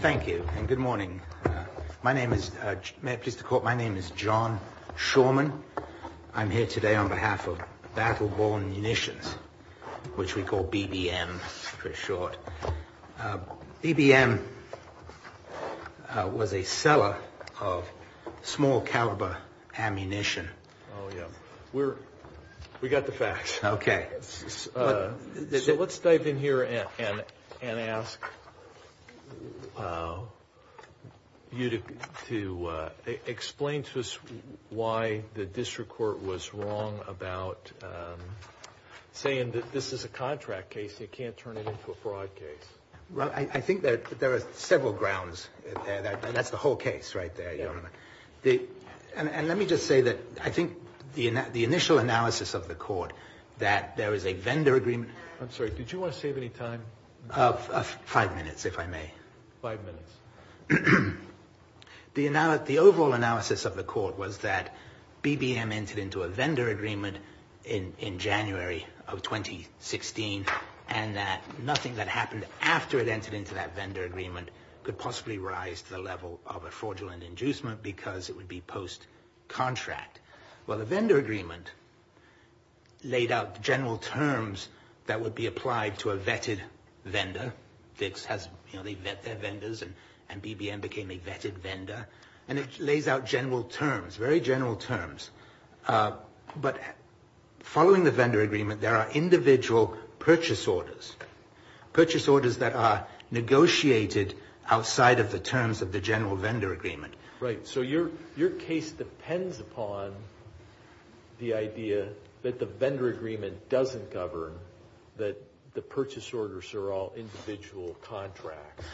Thank you and good morning. My name is John Shulman. I'm here today on behalf of Battle Born Munitions, which we call BBM for short. BBM was a seller of small caliber ammunition. We got the facts. Okay, so let's dive in here and ask you to explain to us why the district court was wrong about saying that this is a contract case. You can't turn it into a fraud case. Well, I think that there are several grounds that that's the whole case right there. And let me just say that I think the initial analysis of the court that there is a vendor agreement. I'm sorry. Did you want to save any time? Five minutes, if I may. Five minutes. The overall analysis of the court was that BBM entered into a vendor agreement in January of 2016. And that nothing that happened after it entered into that vendor agreement could possibly rise to the level of a fraudulent inducement because it would be post contract. Well, the vendor agreement laid out general terms that would be applied to a vetted vendor. VIX has their vendors and BBM became a vetted vendor. And it lays out general terms, very general terms. But following the vendor agreement, there are individual purchase orders, purchase orders that are negotiated outside of the terms of the general vendor agreement. Right. So your case depends upon the idea that the vendor agreement doesn't govern that the purchase orders are all individual contracts.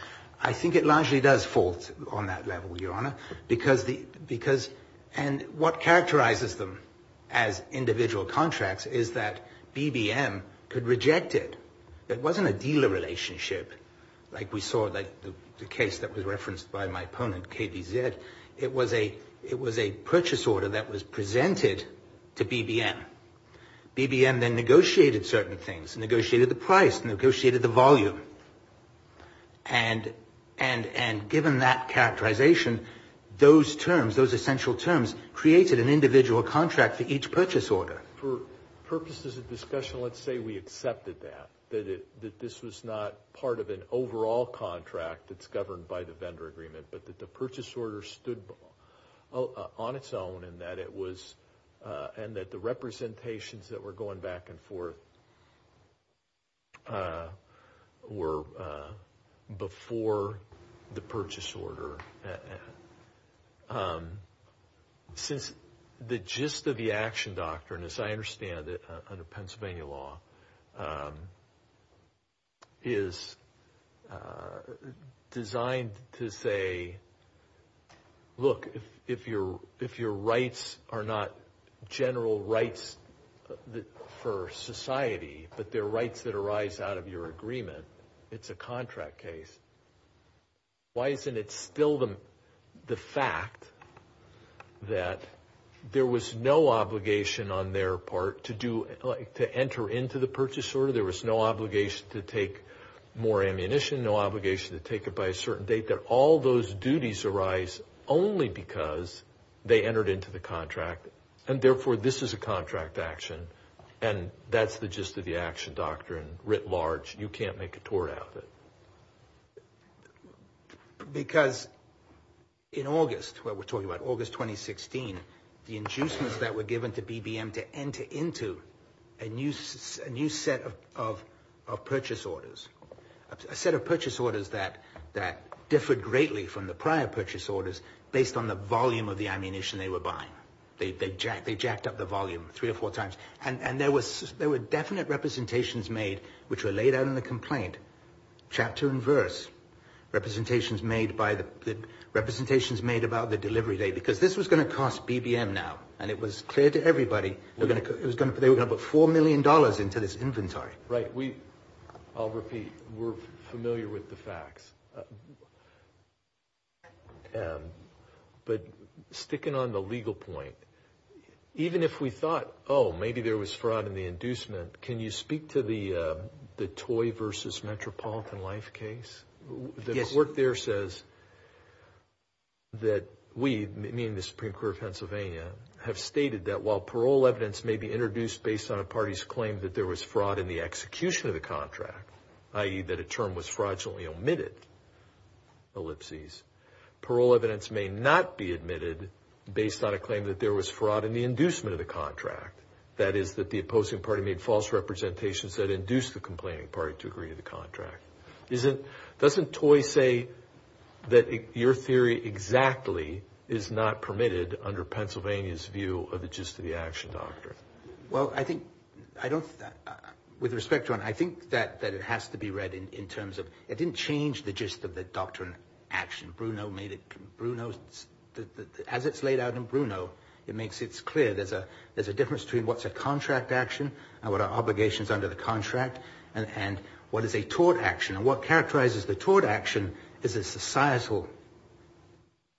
I think it largely does fall on that level, Your Honor, because the because and what characterizes them as individual contracts is that BBM could reject it. It wasn't a dealer relationship like we saw, like the case that was referenced by my opponent, KBZ. It was a it was a purchase order that was presented to BBM. BBM then negotiated certain things, negotiated the price, negotiated the volume. And and and given that characterization, those terms, those essential terms created an individual contract for each purchase order. For purposes of discussion, let's say we accepted that, that this was not part of an overall contract that's governed by the vendor agreement, but that the purchase order stood on its own and that it was and that the representations that were going back and forth were before the purchase order. Since the gist of the action doctrine, as I understand it, under Pennsylvania law. Is designed to say, look, if your if your rights are not general rights for society, but their rights that arise out of your agreement, it's a contract case. Why isn't it still the the fact that there was no obligation on their part to do to enter into the purchase order? There was no obligation to take more ammunition, no obligation to take it by a certain date, that all those duties arise only because they entered into the contract and therefore this is a contract action. And that's the gist of the action doctrine writ large. You can't make a tour out of it. Because in August, what we're talking about, August 2016, the inducements that were given to BBM to enter into a new a new set of of of purchase orders, a set of purchase orders that that differed greatly from the prior purchase orders based on the volume of the ammunition they were buying. They jacked they jacked up the volume three or four times. And there was there were definite representations made which were laid out in the complaint. Chapter and verse representations made by the representations made about the delivery date, because this was going to cost BBM now. And it was clear to everybody that it was going to they were going to put four million dollars into this inventory. Right. We I'll repeat. We're familiar with the facts. But sticking on the legal point, even if we thought, oh, maybe there was fraud in the inducement. Can you speak to the the toy versus Metropolitan Life case? The court there says. That we mean the Supreme Court of Pennsylvania have stated that while parole evidence may be introduced based on a party's claim that there was fraud in the execution of the contract, i.e. that a term was fraudulently omitted ellipses, parole evidence may not be admitted based on a claim that there was fraud in the inducement of the contract. That is that the opposing party made false representations that induced the complaining party to agree to the contract. Isn't doesn't toy say that your theory exactly is not permitted under Pennsylvania's view of the gist of the action doctrine? Well, I think I don't with respect to and I think that that it has to be read in terms of it didn't change the gist of the doctrine action. Bruno made it. Bruno, as it's laid out in Bruno, it makes it clear there's a there's a difference between what's a contract action and what are obligations under the contract. And what is a tort action and what characterizes the tort action is a societal.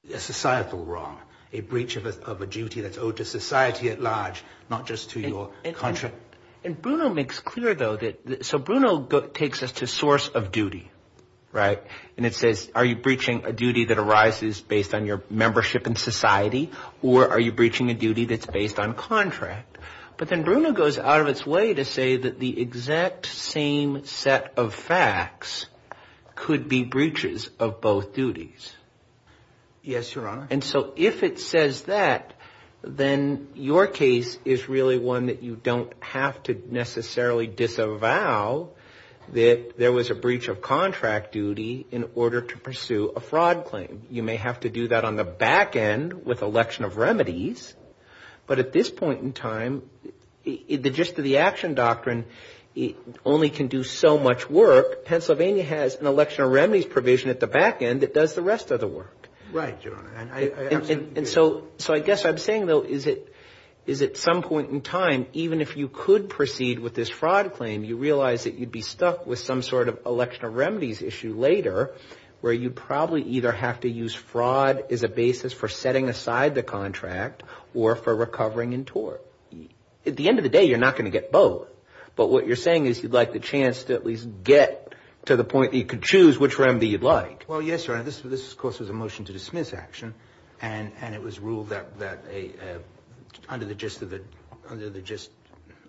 Yes, societal wrong. A breach of a duty that's owed to society at large, not just to your country. And Bruno makes clear, though, that so Bruno takes us to source of duty. Right. And it says, are you breaching a duty that arises based on your membership in society or are you breaching a duty that's based on contract? But then Bruno goes out of its way to say that the exact same set of facts could be breaches of both duties. Yes, Your Honor. And so if it says that, then your case is really one that you don't have to necessarily disavow that there was a breach of contract duty in order to pursue a fraud claim. You may have to do that on the back end with election of remedies. But at this point in time, the gist of the action doctrine, it only can do so much work. Pennsylvania has an election of remedies provision at the back end that does the rest of the work. Right. And so so I guess I'm saying, though, is it is at some point in time, even if you could proceed with this fraud claim, you realize that you'd be stuck with some sort of election of remedies issue later, where you'd probably either have to use fraud as a basis for setting aside the contract or for recovering in tort. At the end of the day, you're not going to get both. But what you're saying is you'd like the chance to at least get to the point that you could choose which remedy you'd like. Well, yes, Your Honor. This this, of course, was a motion to dismiss action. And it was ruled that that a under the gist of it, under the gist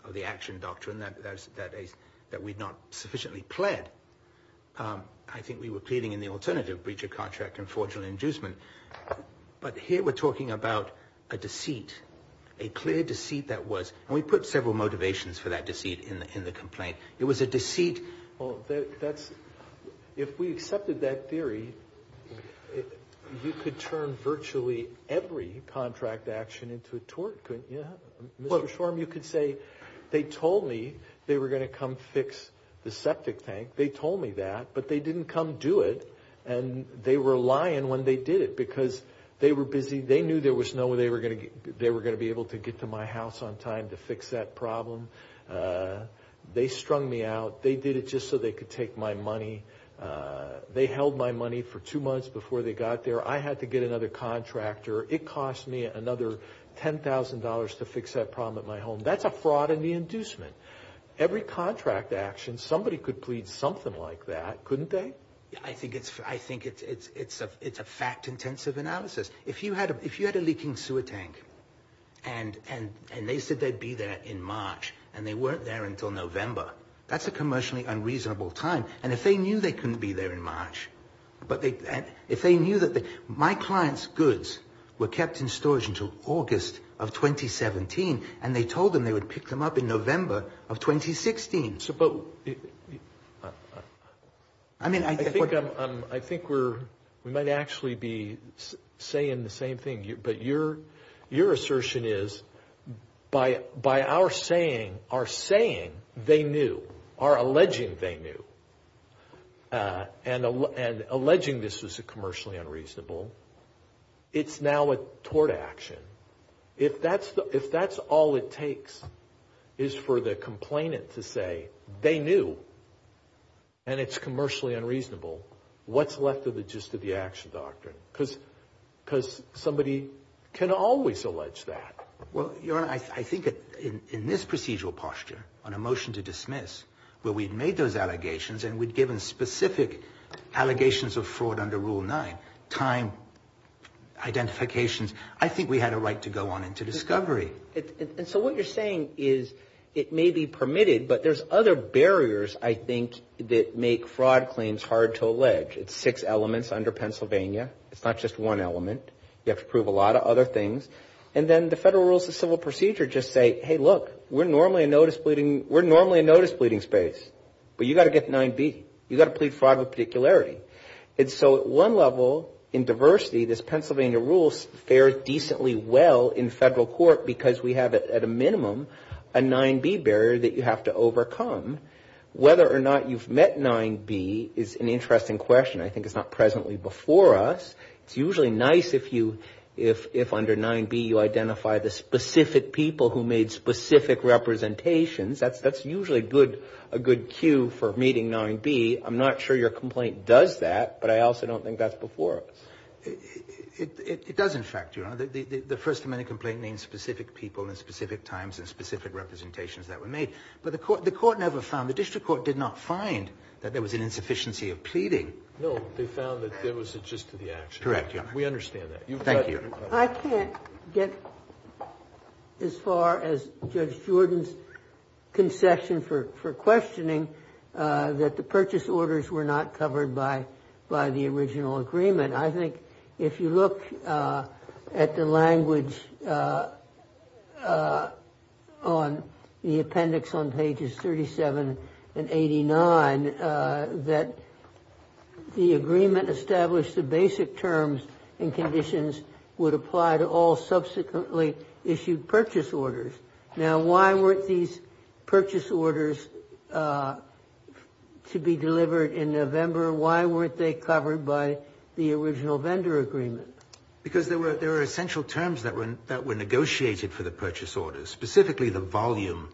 of the action doctrine, that that is that we'd not sufficiently pled. I think we were pleading in the alternative breach of contract and fraudulent inducement. But here we're talking about a deceit, a clear deceit that was we put several motivations for that deceit in the complaint. It was a deceit. Well, that's if we accepted that theory, you could turn virtually every contract action into a tort. Yeah. Mr. Shorm, you could say they told me they were going to come fix the septic tank. They told me that, but they didn't come do it. And they were lying when they did it because they were busy. They knew there was no way they were going to they were going to be able to get to my house on time to fix that problem. They strung me out. They did it just so they could take my money. They held my money for two months before they got there. I had to get another contractor. It cost me another ten thousand dollars to fix that problem at my home. That's a fraud in the inducement. Every contract action, somebody could plead something like that, couldn't they? I think it's I think it's it's it's a it's a fact intensive analysis. If you had if you had a leaking sewer tank and and and they said they'd be there in March and they weren't there until November. That's a commercially unreasonable time. And if they knew they couldn't be there in March, but they if they knew that my clients goods were kept in storage until August of 2017. And they told them they would pick them up in November of 2016. But I mean, I think I think we're we might actually be saying the same thing. But your your assertion is by by our saying are saying they knew are alleging they knew. And and alleging this is a commercially unreasonable. It's now a tort action. If that's if that's all it takes is for the complainant to say they knew. And it's commercially unreasonable. What's left of the gist of the action doctrine? Because because somebody can always allege that. Well, you know, I think in this procedural posture on a motion to dismiss where we'd made those allegations and we'd given specific allegations of fraud under rule nine time. Identifications. I think we had a right to go on into discovery. And so what you're saying is it may be permitted, but there's other barriers, I think, that make fraud claims hard to allege. It's six elements under Pennsylvania. It's not just one element. You have to prove a lot of other things. And then the federal rules of civil procedure just say, hey, look, we're normally a notice pleading. We're normally a notice pleading space. But you got to get nine B. You got to plead fraud with particularity. And so at one level in diversity, this Pennsylvania rule fares decently well in federal court because we have at a minimum a nine B barrier that you have to overcome. Whether or not you've met nine B is an interesting question. I think it's not presently before us. It's usually nice if you if under nine B you identify the specific people who made specific representations. That's usually a good cue for meeting nine B. I'm not sure your complaint does that, but I also don't think that's before us. It does, in fact, Your Honor. The first amendment complaint names specific people in specific times and specific representations that were made. But the court never found, the district court did not find that there was an insufficiency of pleading. No. They found that there was a gist of the action. Correct, Your Honor. We understand that. Thank you. I can't get as far as Judge Jordan's concession for questioning that the purchase orders were not covered by the original agreement. I think if you look at the language on the appendix on pages 37 and 89, that the agreement established the basic terms and conditions would apply to all subsequently issued purchase orders. Now, why weren't these purchase orders to be delivered in November? Why weren't they covered by the original vendor agreement? Because there were essential terms that were negotiated for the purchase orders, specifically the volume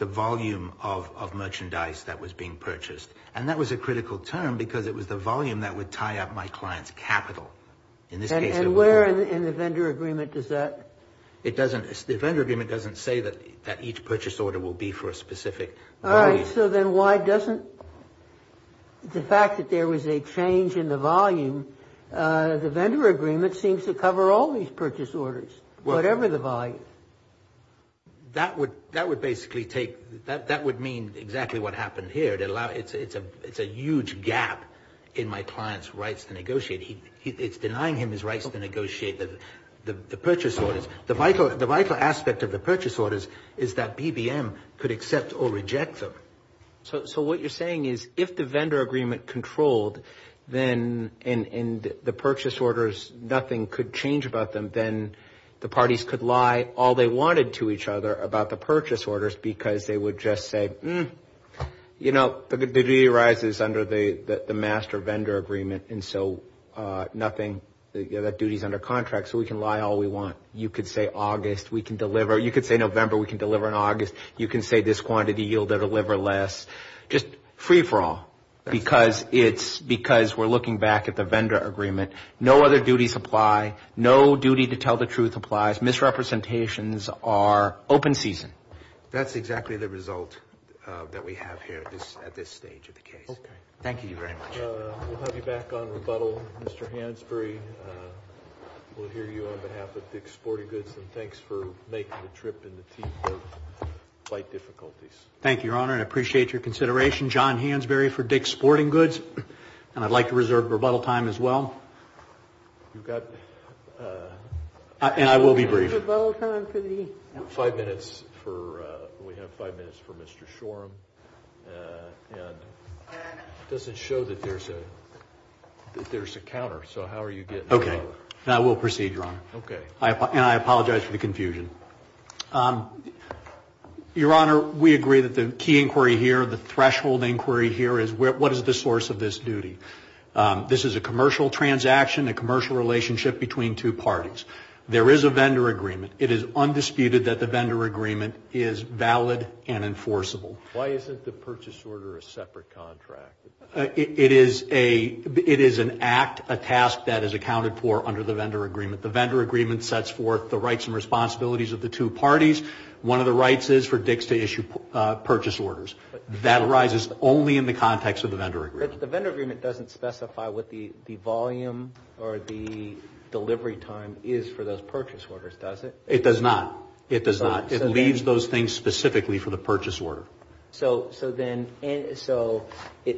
of merchandise that was being purchased. And that was a critical term because it was the volume that would tie up my client's capital. And where in the vendor agreement does that? The vendor agreement doesn't say that each purchase order will be for a specific volume. And so then why doesn't the fact that there was a change in the volume, the vendor agreement seems to cover all these purchase orders, whatever the volume. That would basically take, that would mean exactly what happened here. It's a huge gap in my client's rights to negotiate. It's denying him his rights to negotiate the purchase orders. The vital aspect of the purchase orders is that BBM could accept or reject them. So what you're saying is if the vendor agreement controlled, then in the purchase orders nothing could change about them, then the parties could lie all they wanted to each other about the purchase orders because they would just say, You know, the duty arises under the master vendor agreement. And so nothing, that duty is under contract. So we can lie all we want. You could say August, we can deliver. You could say November, we can deliver in August. You can say this quantity yielded or deliver less. Just free for all because it's because we're looking back at the vendor agreement. No other duties apply. No duty to tell the truth applies. Misrepresentations are open season. That's exactly the result that we have here at this stage of the case. Okay. Thank you very much. We'll have you back on rebuttal, Mr. Hansberry. We'll hear you on behalf of Dick's Sporting Goods. And thanks for making the trip in the teeth of flight difficulties. Thank you, Your Honor. I appreciate your consideration. John Hansberry for Dick's Sporting Goods. And I'd like to reserve rebuttal time as well. You've got. And I will be brief. Five minutes for. We have five minutes for Mr. Shoreham. And it doesn't show that there's a counter. So how are you getting. Okay. And I will proceed, Your Honor. Okay. And I apologize for the confusion. Your Honor, we agree that the key inquiry here, the threshold inquiry here is what is the source of this duty. This is a commercial transaction, a commercial relationship between two parties. There is a vendor agreement. It is undisputed that the vendor agreement is valid and enforceable. Why isn't the purchase order a separate contract? It is an act, a task that is accounted for under the vendor agreement. The vendor agreement sets forth the rights and responsibilities of the two parties. One of the rights is for Dick's to issue purchase orders. That arises only in the context of the vendor agreement. The vendor agreement doesn't specify what the volume or the delivery time is for those purchase orders, does it? It does not. It does not. It leaves those things specifically for the purchase order. So then it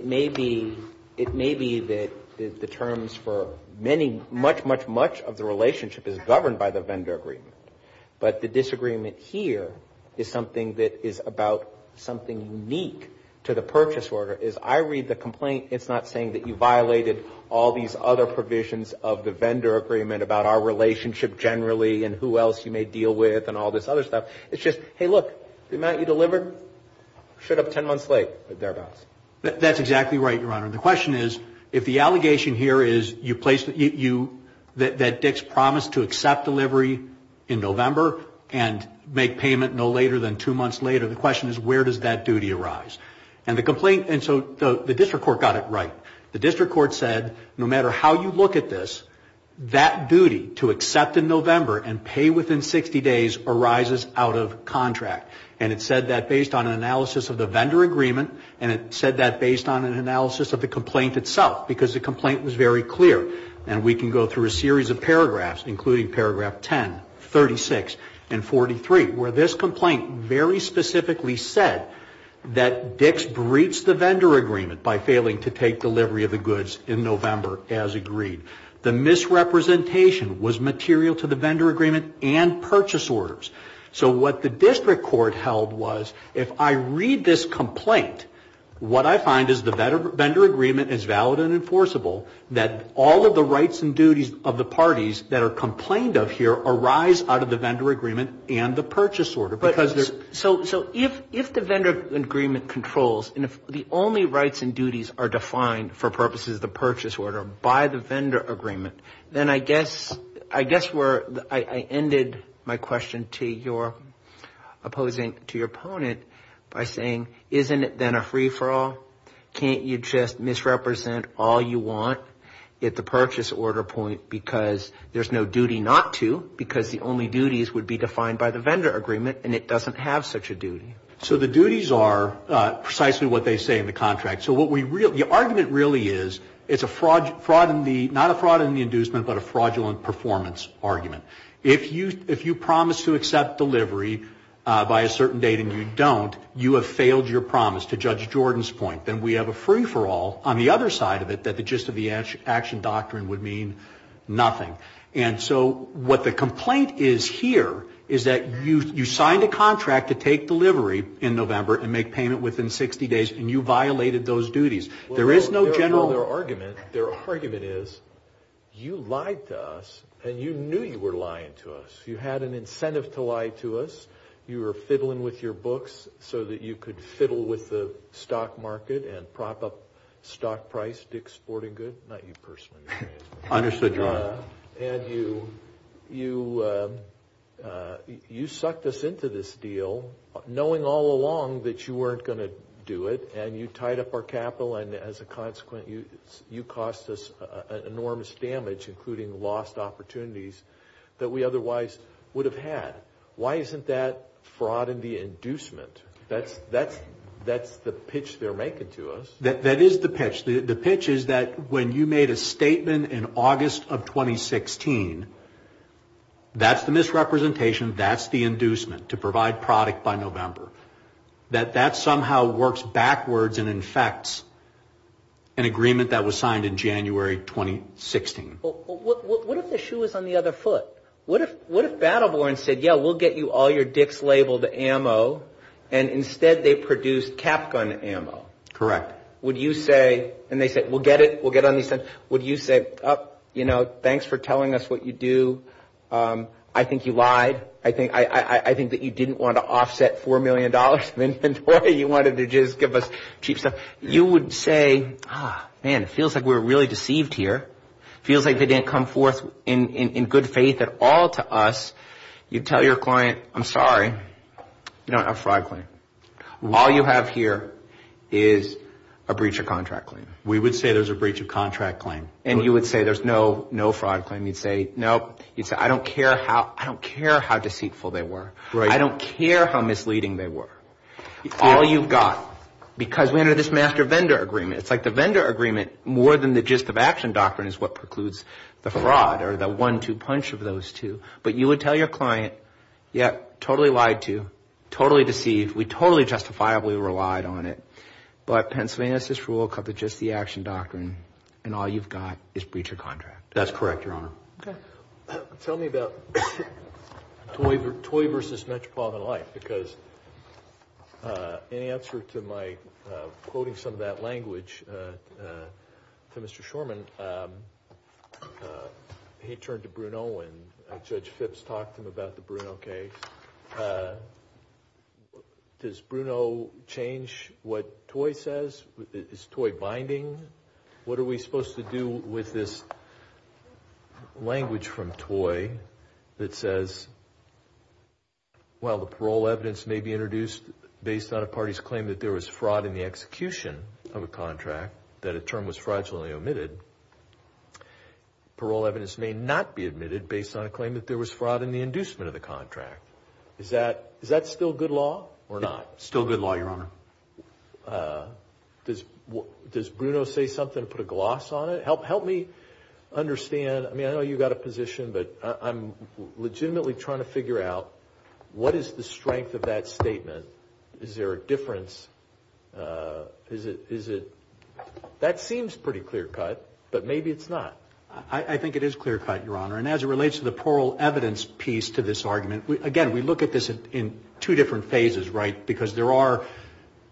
may be that the terms for many, much, much, much of the relationship is governed by the vendor agreement. But the disagreement here is something that is about something unique to the purchase order. As I read the complaint, it's not saying that you violated all these other provisions of the vendor agreement about our relationship generally and who else you may deal with and all this other stuff. It's just, hey, look, the amount you delivered should have 10 months late, thereabouts. That's exactly right, Your Honor. The question is, if the allegation here is that Dick's promised to accept delivery in November and make payment no later than two months later, the question is where does that duty arise? And so the district court got it right. The district court said no matter how you look at this, that duty to accept in November and pay within 60 days arises out of contract. And it said that based on an analysis of the vendor agreement, and it said that based on an analysis of the complaint itself, because the complaint was very clear. And we can go through a series of paragraphs, including paragraph 10, 36, and 43, where this complaint very specifically said that Dick's breached the vendor agreement by failing to take delivery of the goods in November as agreed. The misrepresentation was material to the vendor agreement and purchase orders. So what the district court held was, if I read this complaint, what I find is the vendor agreement is valid and enforceable, that all of the rights and duties of the parties that are complained of here arise out of the vendor agreement and the purchase order. So if the vendor agreement controls, and if the only rights and duties are defined, for purposes of the purchase order, by the vendor agreement, then I guess where I ended my question to your opposing, to your opponent, by saying, isn't it then a free-for-all? Can't you just misrepresent all you want at the purchase order point because there's no duty not to, because the only duties would be defined by the vendor agreement, and it doesn't have such a duty. So the duties are precisely what they say in the contract. So the argument really is, it's not a fraud in the inducement, but a fraudulent performance argument. If you promise to accept delivery by a certain date and you don't, you have failed your promise, to Judge Jordan's point. Then we have a free-for-all on the other side of it that the gist of the action doctrine would mean nothing. And so what the complaint is here is that you signed a contract to take delivery in November and make payment within 60 days, and you violated those duties. There is no general argument. Their argument is, you lied to us, and you knew you were lying to us. You had an incentive to lie to us. You were fiddling with your books so that you could fiddle with the stock market and prop up stock price, Dick Sporting Good. Not you personally. Understood, Your Honor. And you sucked us into this deal, knowing all along that you weren't going to do it, and you tied up our capital and, as a consequence, you cost us enormous damage, including lost opportunities that we otherwise would have had. Why isn't that fraud in the inducement? That's the pitch they're making to us. That is the pitch. The pitch is that when you made a statement in August of 2016, that's the misrepresentation, that's the inducement to provide product by November, that that somehow works backwards and infects an agreement that was signed in January 2016. What if the shoe was on the other foot? What if Battleborn said, yeah, we'll get you all your Dick's labeled ammo, and instead they produced cap gun ammo? Correct. Why would you say, and they said, we'll get it, we'll get on these things, would you say, oh, you know, thanks for telling us what you do. I think you lied. I think that you didn't want to offset $4 million of inventory. You wanted to just give us cheap stuff. You would say, oh, man, it feels like we were really deceived here. It feels like they didn't come forth in good faith at all to us. You tell your client, I'm sorry, you don't have a fraud claim. All you have here is a breach of contract claim. We would say there's a breach of contract claim. And you would say there's no fraud claim. You'd say, nope. You'd say, I don't care how deceitful they were. I don't care how misleading they were. All you've got, because we have this master vendor agreement. It's like the vendor agreement, more than the gist of action doctrine, is what precludes the fraud or the one-two punch of those two. But you would tell your client, yeah, totally lied to, totally deceived. We totally justifiably relied on it. But Pennsylvania has this rule cut to just the action doctrine, and all you've got is breach of contract. That's correct, Your Honor. Okay. Tell me about toy versus metropolitan life, because in answer to my quoting some of that language to Mr. Shorman, he turned to Bruno and Judge Phipps talked to him about the Bruno case. Does Bruno change what toy says? Is toy binding? What are we supposed to do with this language from toy that says, while the parole evidence may be introduced based on a party's claim that there was fraud in the execution of a contract, that a term was fraudulently omitted, parole evidence may not be admitted based on a claim that there was fraud in the inducement of the contract. Is that still good law or not? Still good law, Your Honor. Does Bruno say something to put a gloss on it? Help me understand. I mean, I know you've got a position, but I'm legitimately trying to figure out what is the strength of that statement. Is there a difference? That seems pretty clear-cut, but maybe it's not. I think it is clear-cut, Your Honor. And as it relates to the parole evidence piece to this argument, again, we look at this in two different phases, right, because there are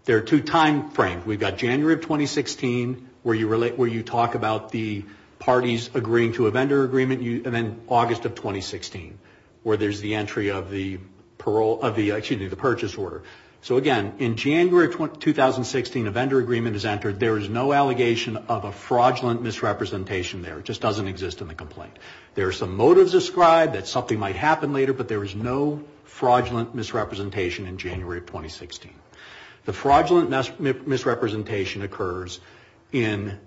two time frames. We've got January of 2016, where you talk about the parties agreeing to a vendor agreement, and then August of 2016, where there's the entry of the purchase order. So, again, in January of 2016, a vendor agreement is entered. There is no allegation of a fraudulent misrepresentation there. It just doesn't exist in the complaint. There are some motives described that something might happen later, but there is no fraudulent misrepresentation in January of 2016. The fraudulent misrepresentation occurs in,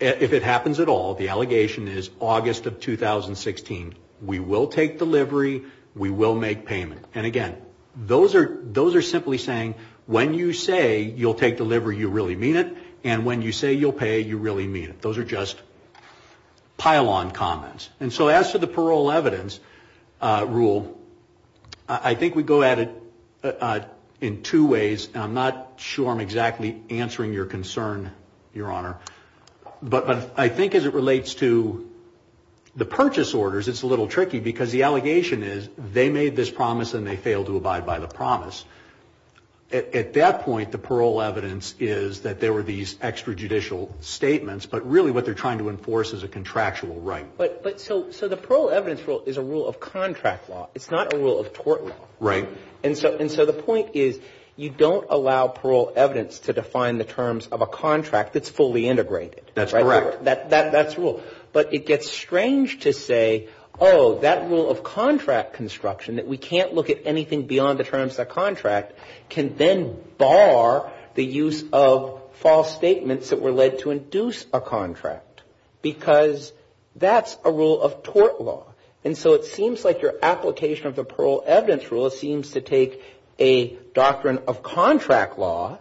if it happens at all, the allegation is August of 2016. We will take delivery. We will make payment. And, again, those are simply saying, when you say you'll take delivery, you really mean it, and when you say you'll pay, you really mean it. Those are just pile-on comments. And so as to the parole evidence rule, I think we go at it in two ways. I'm not sure I'm exactly answering your concern, Your Honor. But I think as it relates to the purchase orders, it's a little tricky, because the allegation is they made this promise and they failed to abide by the promise. At that point, the parole evidence is that there were these extrajudicial statements, but really what they're trying to enforce is a contractual right. But so the parole evidence rule is a rule of contract law. It's not a rule of tort law. Right. And so the point is you don't allow parole evidence to define the terms of a contract that's fully integrated. That's correct. That's rule. But it gets strange to say, oh, that rule of contract construction, that we can't look at anything beyond the terms of a contract, can then bar the use of false statements that were led to induce a contract, because that's a rule of tort law. And so it seems like your application of the parole evidence rule seems to take a doctrine of contract law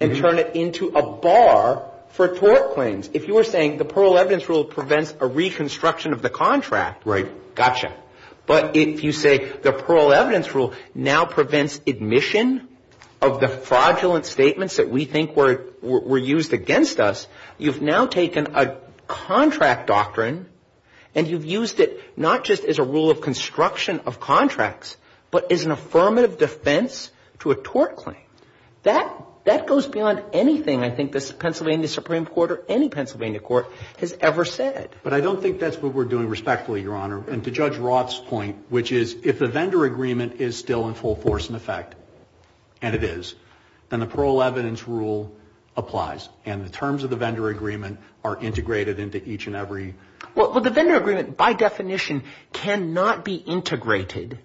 and turn it into a bar for tort claims. If you were saying the parole evidence rule prevents a reconstruction of the contract. Right. Gotcha. But if you say the parole evidence rule now prevents admission of the fraudulent statements that we think were used against us, you've now taken a contract doctrine and you've used it not just as a rule of construction of contracts, but as an affirmative defense to a tort claim. That goes beyond anything I think the Pennsylvania Supreme Court or any Pennsylvania court has ever said. But I don't think that's what we're doing respectfully, Your Honor. And to Judge Roth's point, which is if the vendor agreement is still in full force and effect, and it is, then the parole evidence rule applies. And the terms of the vendor agreement are integrated into each and every one. Well, the vendor agreement by definition cannot be integrated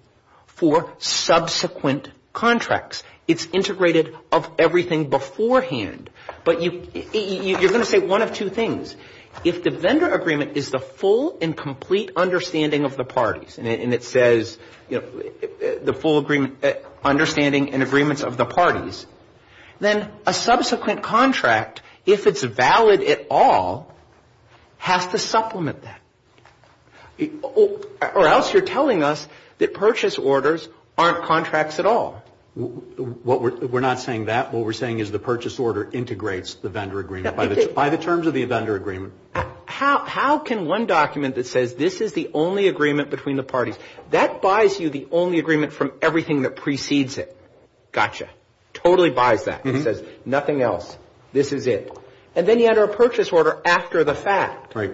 for subsequent contracts. It's integrated of everything beforehand. But you're going to say one of two things. If the vendor agreement is the full and complete understanding of the parties, and it says, you know, the full understanding and agreements of the parties, then a subsequent contract, if it's valid at all, has to supplement that. Or else you're telling us that purchase orders aren't contracts at all. We're not saying that. What we're saying is the purchase order integrates the vendor agreement by the terms of the vendor agreement. How can one document that says this is the only agreement between the parties, that buys you the only agreement from everything that precedes it? Gotcha. Totally buys that. It says nothing else. This is it. And then you enter a purchase order after the fact. Right.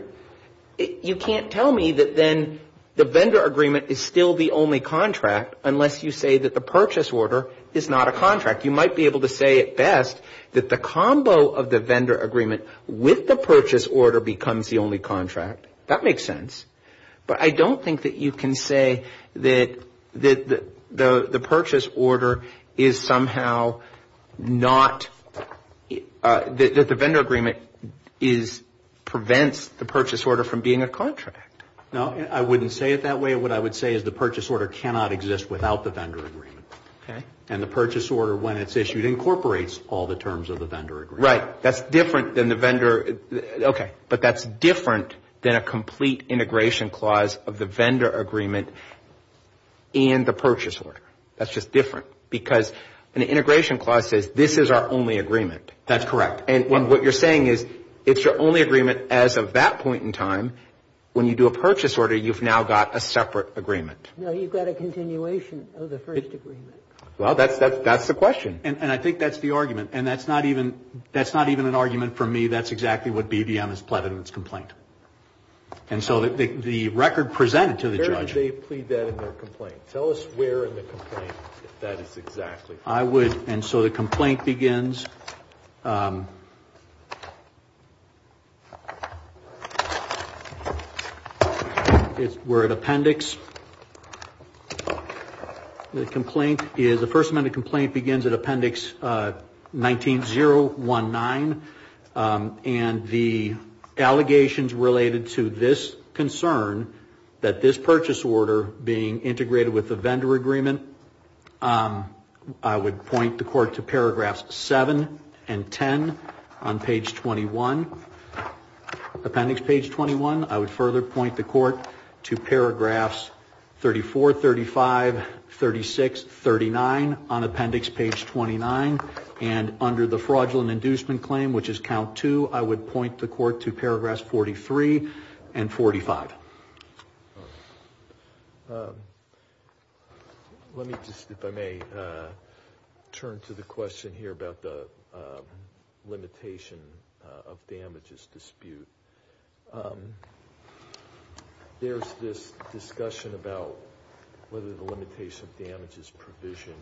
You can't tell me that then the vendor agreement is still the only contract unless you say that the purchase order is not a contract. You might be able to say at best that the combo of the vendor agreement with the purchase order becomes the only contract. That makes sense. But I don't think that you can say that the purchase order is somehow not, that the vendor agreement prevents the purchase order from being a contract. No, I wouldn't say it that way. What I would say is the purchase order cannot exist without the vendor agreement. And the purchase order, when it's issued, incorporates all the terms of the vendor agreement. Right. That's different than the vendor. Okay. But that's different than a complete integration clause of the vendor agreement and the purchase order. That's just different. Because an integration clause says this is our only agreement. That's correct. And what you're saying is it's your only agreement as of that point in time. When you do a purchase order, you've now got a separate agreement. No, you've got a continuation of the first agreement. Well, that's the question. And I think that's the argument. And that's not even an argument for me. That's exactly what BBM has pleaded in its complaint. And so the record presented to the judge. Where did they plead that in their complaint? Tell us where in the complaint that is exactly. I would. And so the complaint begins. We're at appendix. The complaint is the first amendment complaint begins at appendix 19-019. And the allegations related to this concern that this purchase order being integrated with the vendor agreement. I would point the court to paragraphs 7 and 10 on page 21. Appendix page 21. I would further point the court to paragraphs 34, 35, 36, 39 on appendix page 29. And under the fraudulent inducement claim, which is count two, I would point the court to paragraphs 43 and 45. Let me just, if I may, turn to the question here about the limitation of damages dispute. There's this discussion about whether the limitation of damages provision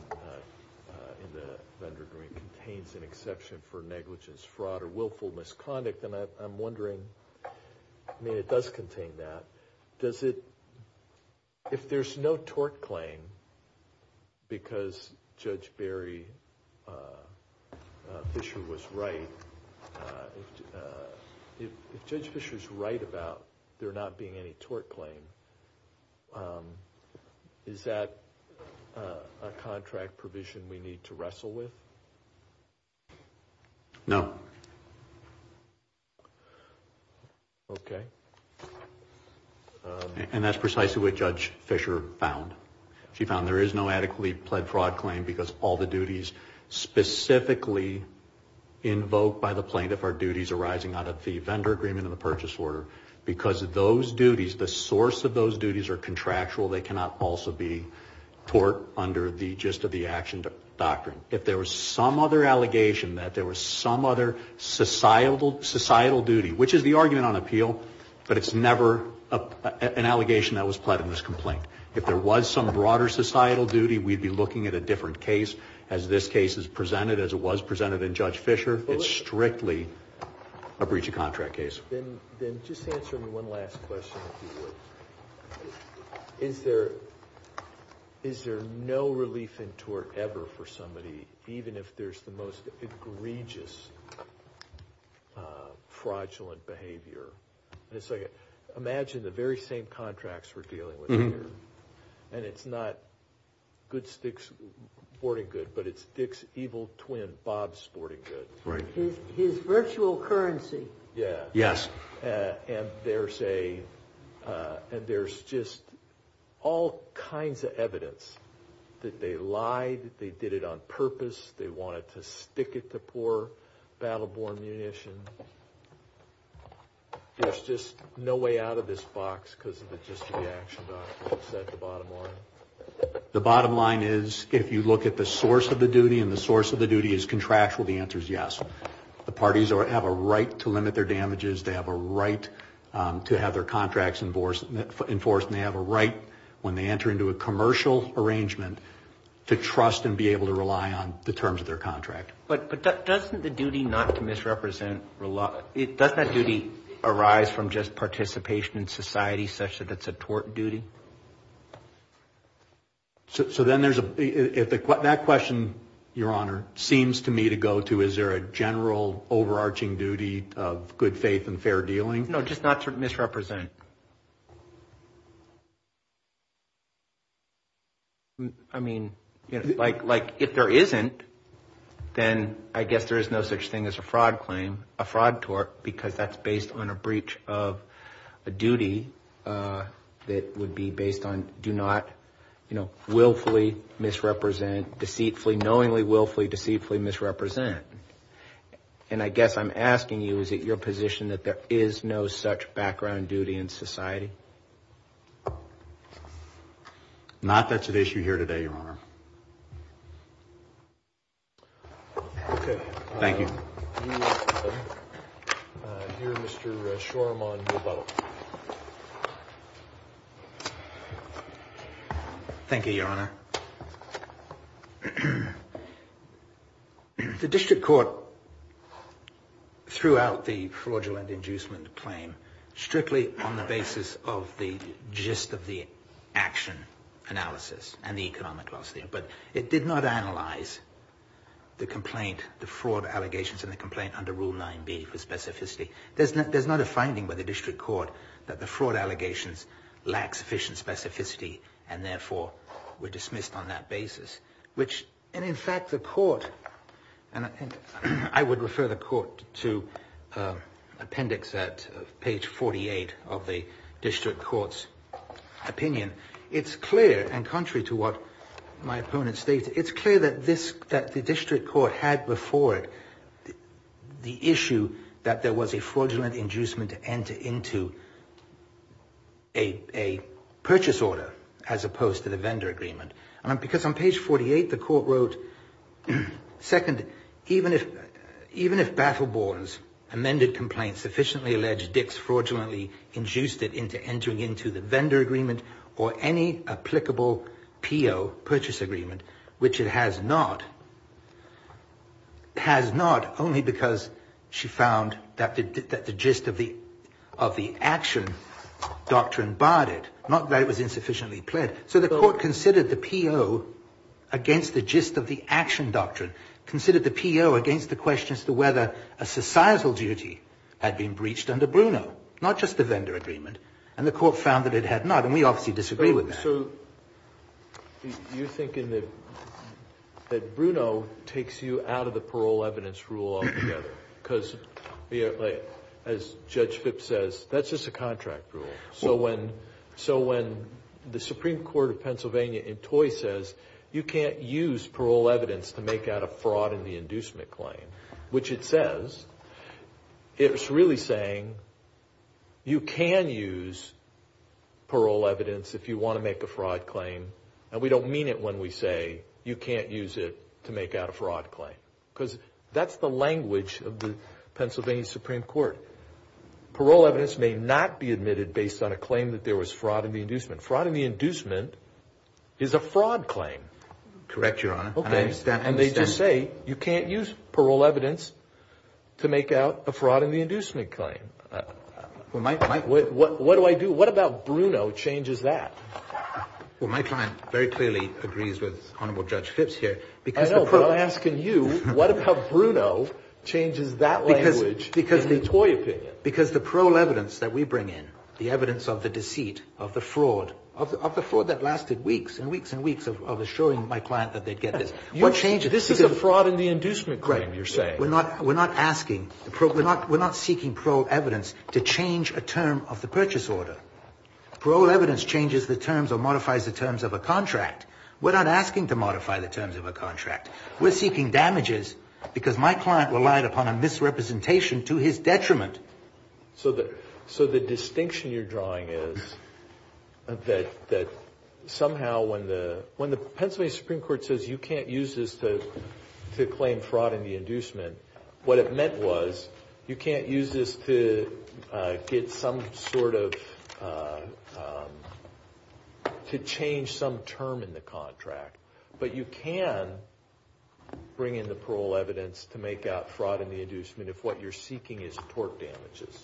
in the vendor agreement contains an exception for negligence, fraud, or willful misconduct. And I'm wondering, I mean, it does contain that. Does it, if there's no tort claim, because Judge Barry Fisher was right, if Judge Fisher's right about there not being any tort claim, is that a contract provision we need to wrestle with? No. Okay. And that's precisely what Judge Fisher found. She found there is no adequately pled fraud claim because all the duties specifically invoked by the plaintiff are duties arising out of the vendor agreement and the purchase order. Because those duties, the source of those duties are contractual, they cannot also be tort under the gist of the action doctrine. If there was some other allegation that there was some other societal duty, which is the argument on appeal, but it's never an allegation that was pled in this complaint. If there was some broader societal duty, we'd be looking at a different case as this case is presented, as it was presented in Judge Fisher. It's strictly a breach of contract case. Then just answer me one last question, if you would. Is there no relief in tort ever for somebody, even if there's the most egregious fraudulent behavior? Imagine the very same contracts we're dealing with here. And it's not Good Sticks Sporting Good, but it's Dick's evil twin, Bob's Sporting Good. Right. His virtual currency. Yes. And there's just all kinds of evidence that they lied, they did it on purpose, they wanted to stick it to poor battle-born munition. There's just no way out of this box because of the gist of the action doctrine. Is that the bottom line? The bottom line is, if you look at the source of the duty and the source of the duty is contractual, the answer is yes. The parties have a right to limit their damages, they have a right to have their contracts enforced, and they have a right, when they enter into a commercial arrangement, to trust and be able to rely on the terms of their contract. But doesn't the duty not to misrepresent, does that duty arise from just participation in society such that it's a tort duty? So then there's a – that question, Your Honor, seems to me to go to, is there a general overarching duty of good faith and fair dealing? No, just not to misrepresent. I mean, like if there isn't, then I guess there is no such thing as a fraud claim, a fraud tort, because that's based on a breach of a duty that would be based on do not willfully misrepresent, deceitfully, knowingly willfully deceitfully misrepresent. And I guess I'm asking you, is it your position that there is no such background duty in society? Not that's at issue here today, Your Honor. Okay. Thank you. Here, Mr. Shoremont will vote. Thank you, Your Honor. The district court threw out the fraudulent inducement claim strictly on the basis of the gist of the action analysis and the economic policy. But it did not analyze the complaint, the fraud allegations in the complaint under Rule 9b for specificity. There's not a finding by the district court that the fraud allegations lack sufficient specificity, and therefore were dismissed on that basis, which – and in fact, the court – and I would refer the court to appendix at page 48 of the district court's opinion. It's clear, and contrary to what my opponent states, it's clear that this – that the district court had before it the issue that there was a fraudulent inducement to enter into a purchase order as opposed to the vendor agreement. Because on page 48, the court wrote, second, even if Baffleborn's amended complaint sufficiently alleged that Dix fraudulently induced it into entering into the vendor agreement or any applicable P.O., purchase agreement, which it has not, has not only because she found that the gist of the action doctrine barred it, not that it was insufficiently pled. So the court considered the P.O. against the gist of the action doctrine, considered the P.O. against the question as to whether a societal duty had been breached under Bruno, not just the vendor agreement, and the court found that it had not, and we obviously disagree with that. So you're thinking that Bruno takes you out of the parole evidence rule altogether, because as Judge Phipps says, that's just a contract rule. So when the Supreme Court of Pennsylvania in Toye says you can't use parole evidence to make out a fraud in the inducement claim, which it says, it's really saying you can use parole evidence if you want to make a fraud claim, and we don't mean it when we say you can't use it to make out a fraud claim, because that's the language of the Pennsylvania Supreme Court. Parole evidence may not be admitted based on a claim that there was fraud in the inducement. Fraud in the inducement is a fraud claim. Correct, Your Honor. And they just say you can't use parole evidence to make out a fraud in the inducement claim. What do I do? What about Bruno changes that? Well, my client very clearly agrees with Honorable Judge Phipps here. I know, but I'm asking you, what about Bruno changes that language in the Toye opinion? Because the parole evidence that we bring in, the evidence of the deceit, of the fraud, of the fraud that lasted weeks and weeks and weeks of assuring my client that they'd get this. This is a fraud in the inducement claim, you're saying. We're not seeking parole evidence to change a term of the purchase order. Parole evidence changes the terms or modifies the terms of a contract. We're not asking to modify the terms of a contract. We're seeking damages because my client relied upon a misrepresentation to his detriment. So the distinction you're drawing is that somehow when the Pennsylvania Supreme Court says you can't use this to claim fraud in the inducement, what it meant was you can't use this to get some sort of, to change some term in the contract. But you can bring in the parole evidence to make out fraud in the inducement if what you're seeking is tort damages.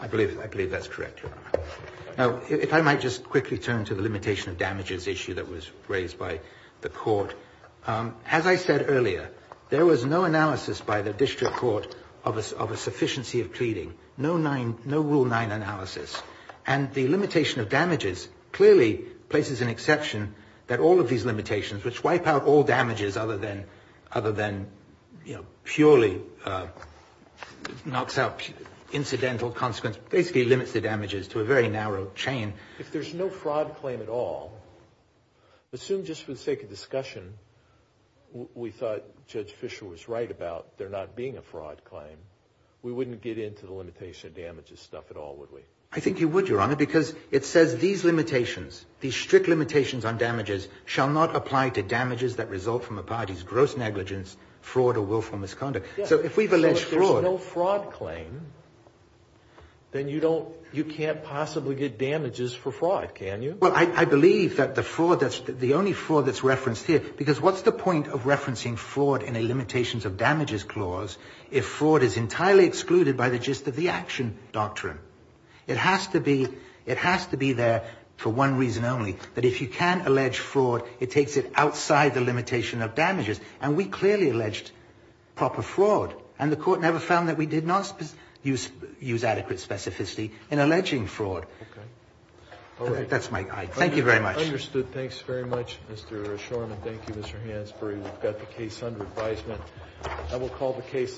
I believe that's correct. Now, if I might just quickly turn to the limitation of damages issue that was raised by the court. As I said earlier, there was no analysis by the district court of a sufficiency of pleading. No Rule 9 analysis. And the limitation of damages clearly places an exception that all of these limitations, which wipe out all damages other than, you know, purely knocks out incidental consequence, basically limits the damages to a very narrow chain. If there's no fraud claim at all, assume just for the sake of discussion we thought Judge Fisher was right about there not being a fraud claim, we wouldn't get into the limitation of damages stuff at all, would we? I think you would, Your Honor, because it says these limitations, these strict limitations on damages, shall not apply to damages that result from a party's gross negligence, fraud, or willful misconduct. If there's no fraud claim, then you can't possibly get damages for fraud, can you? Well, I believe that the only fraud that's referenced here, because what's the point of referencing fraud in a limitations of damages clause if fraud is entirely excluded by the gist of the action doctrine? It has to be there for one reason only, that if you can allege fraud, it takes it outside the limitation of damages. And we clearly alleged proper fraud. And the Court never found that we did not use adequate specificity in alleging fraud. Okay. All right. That's my guide. Thank you very much. Understood. Thanks very much, Mr. Shorman. Thank you, Mr. Hansberry. We've got the case under advisement.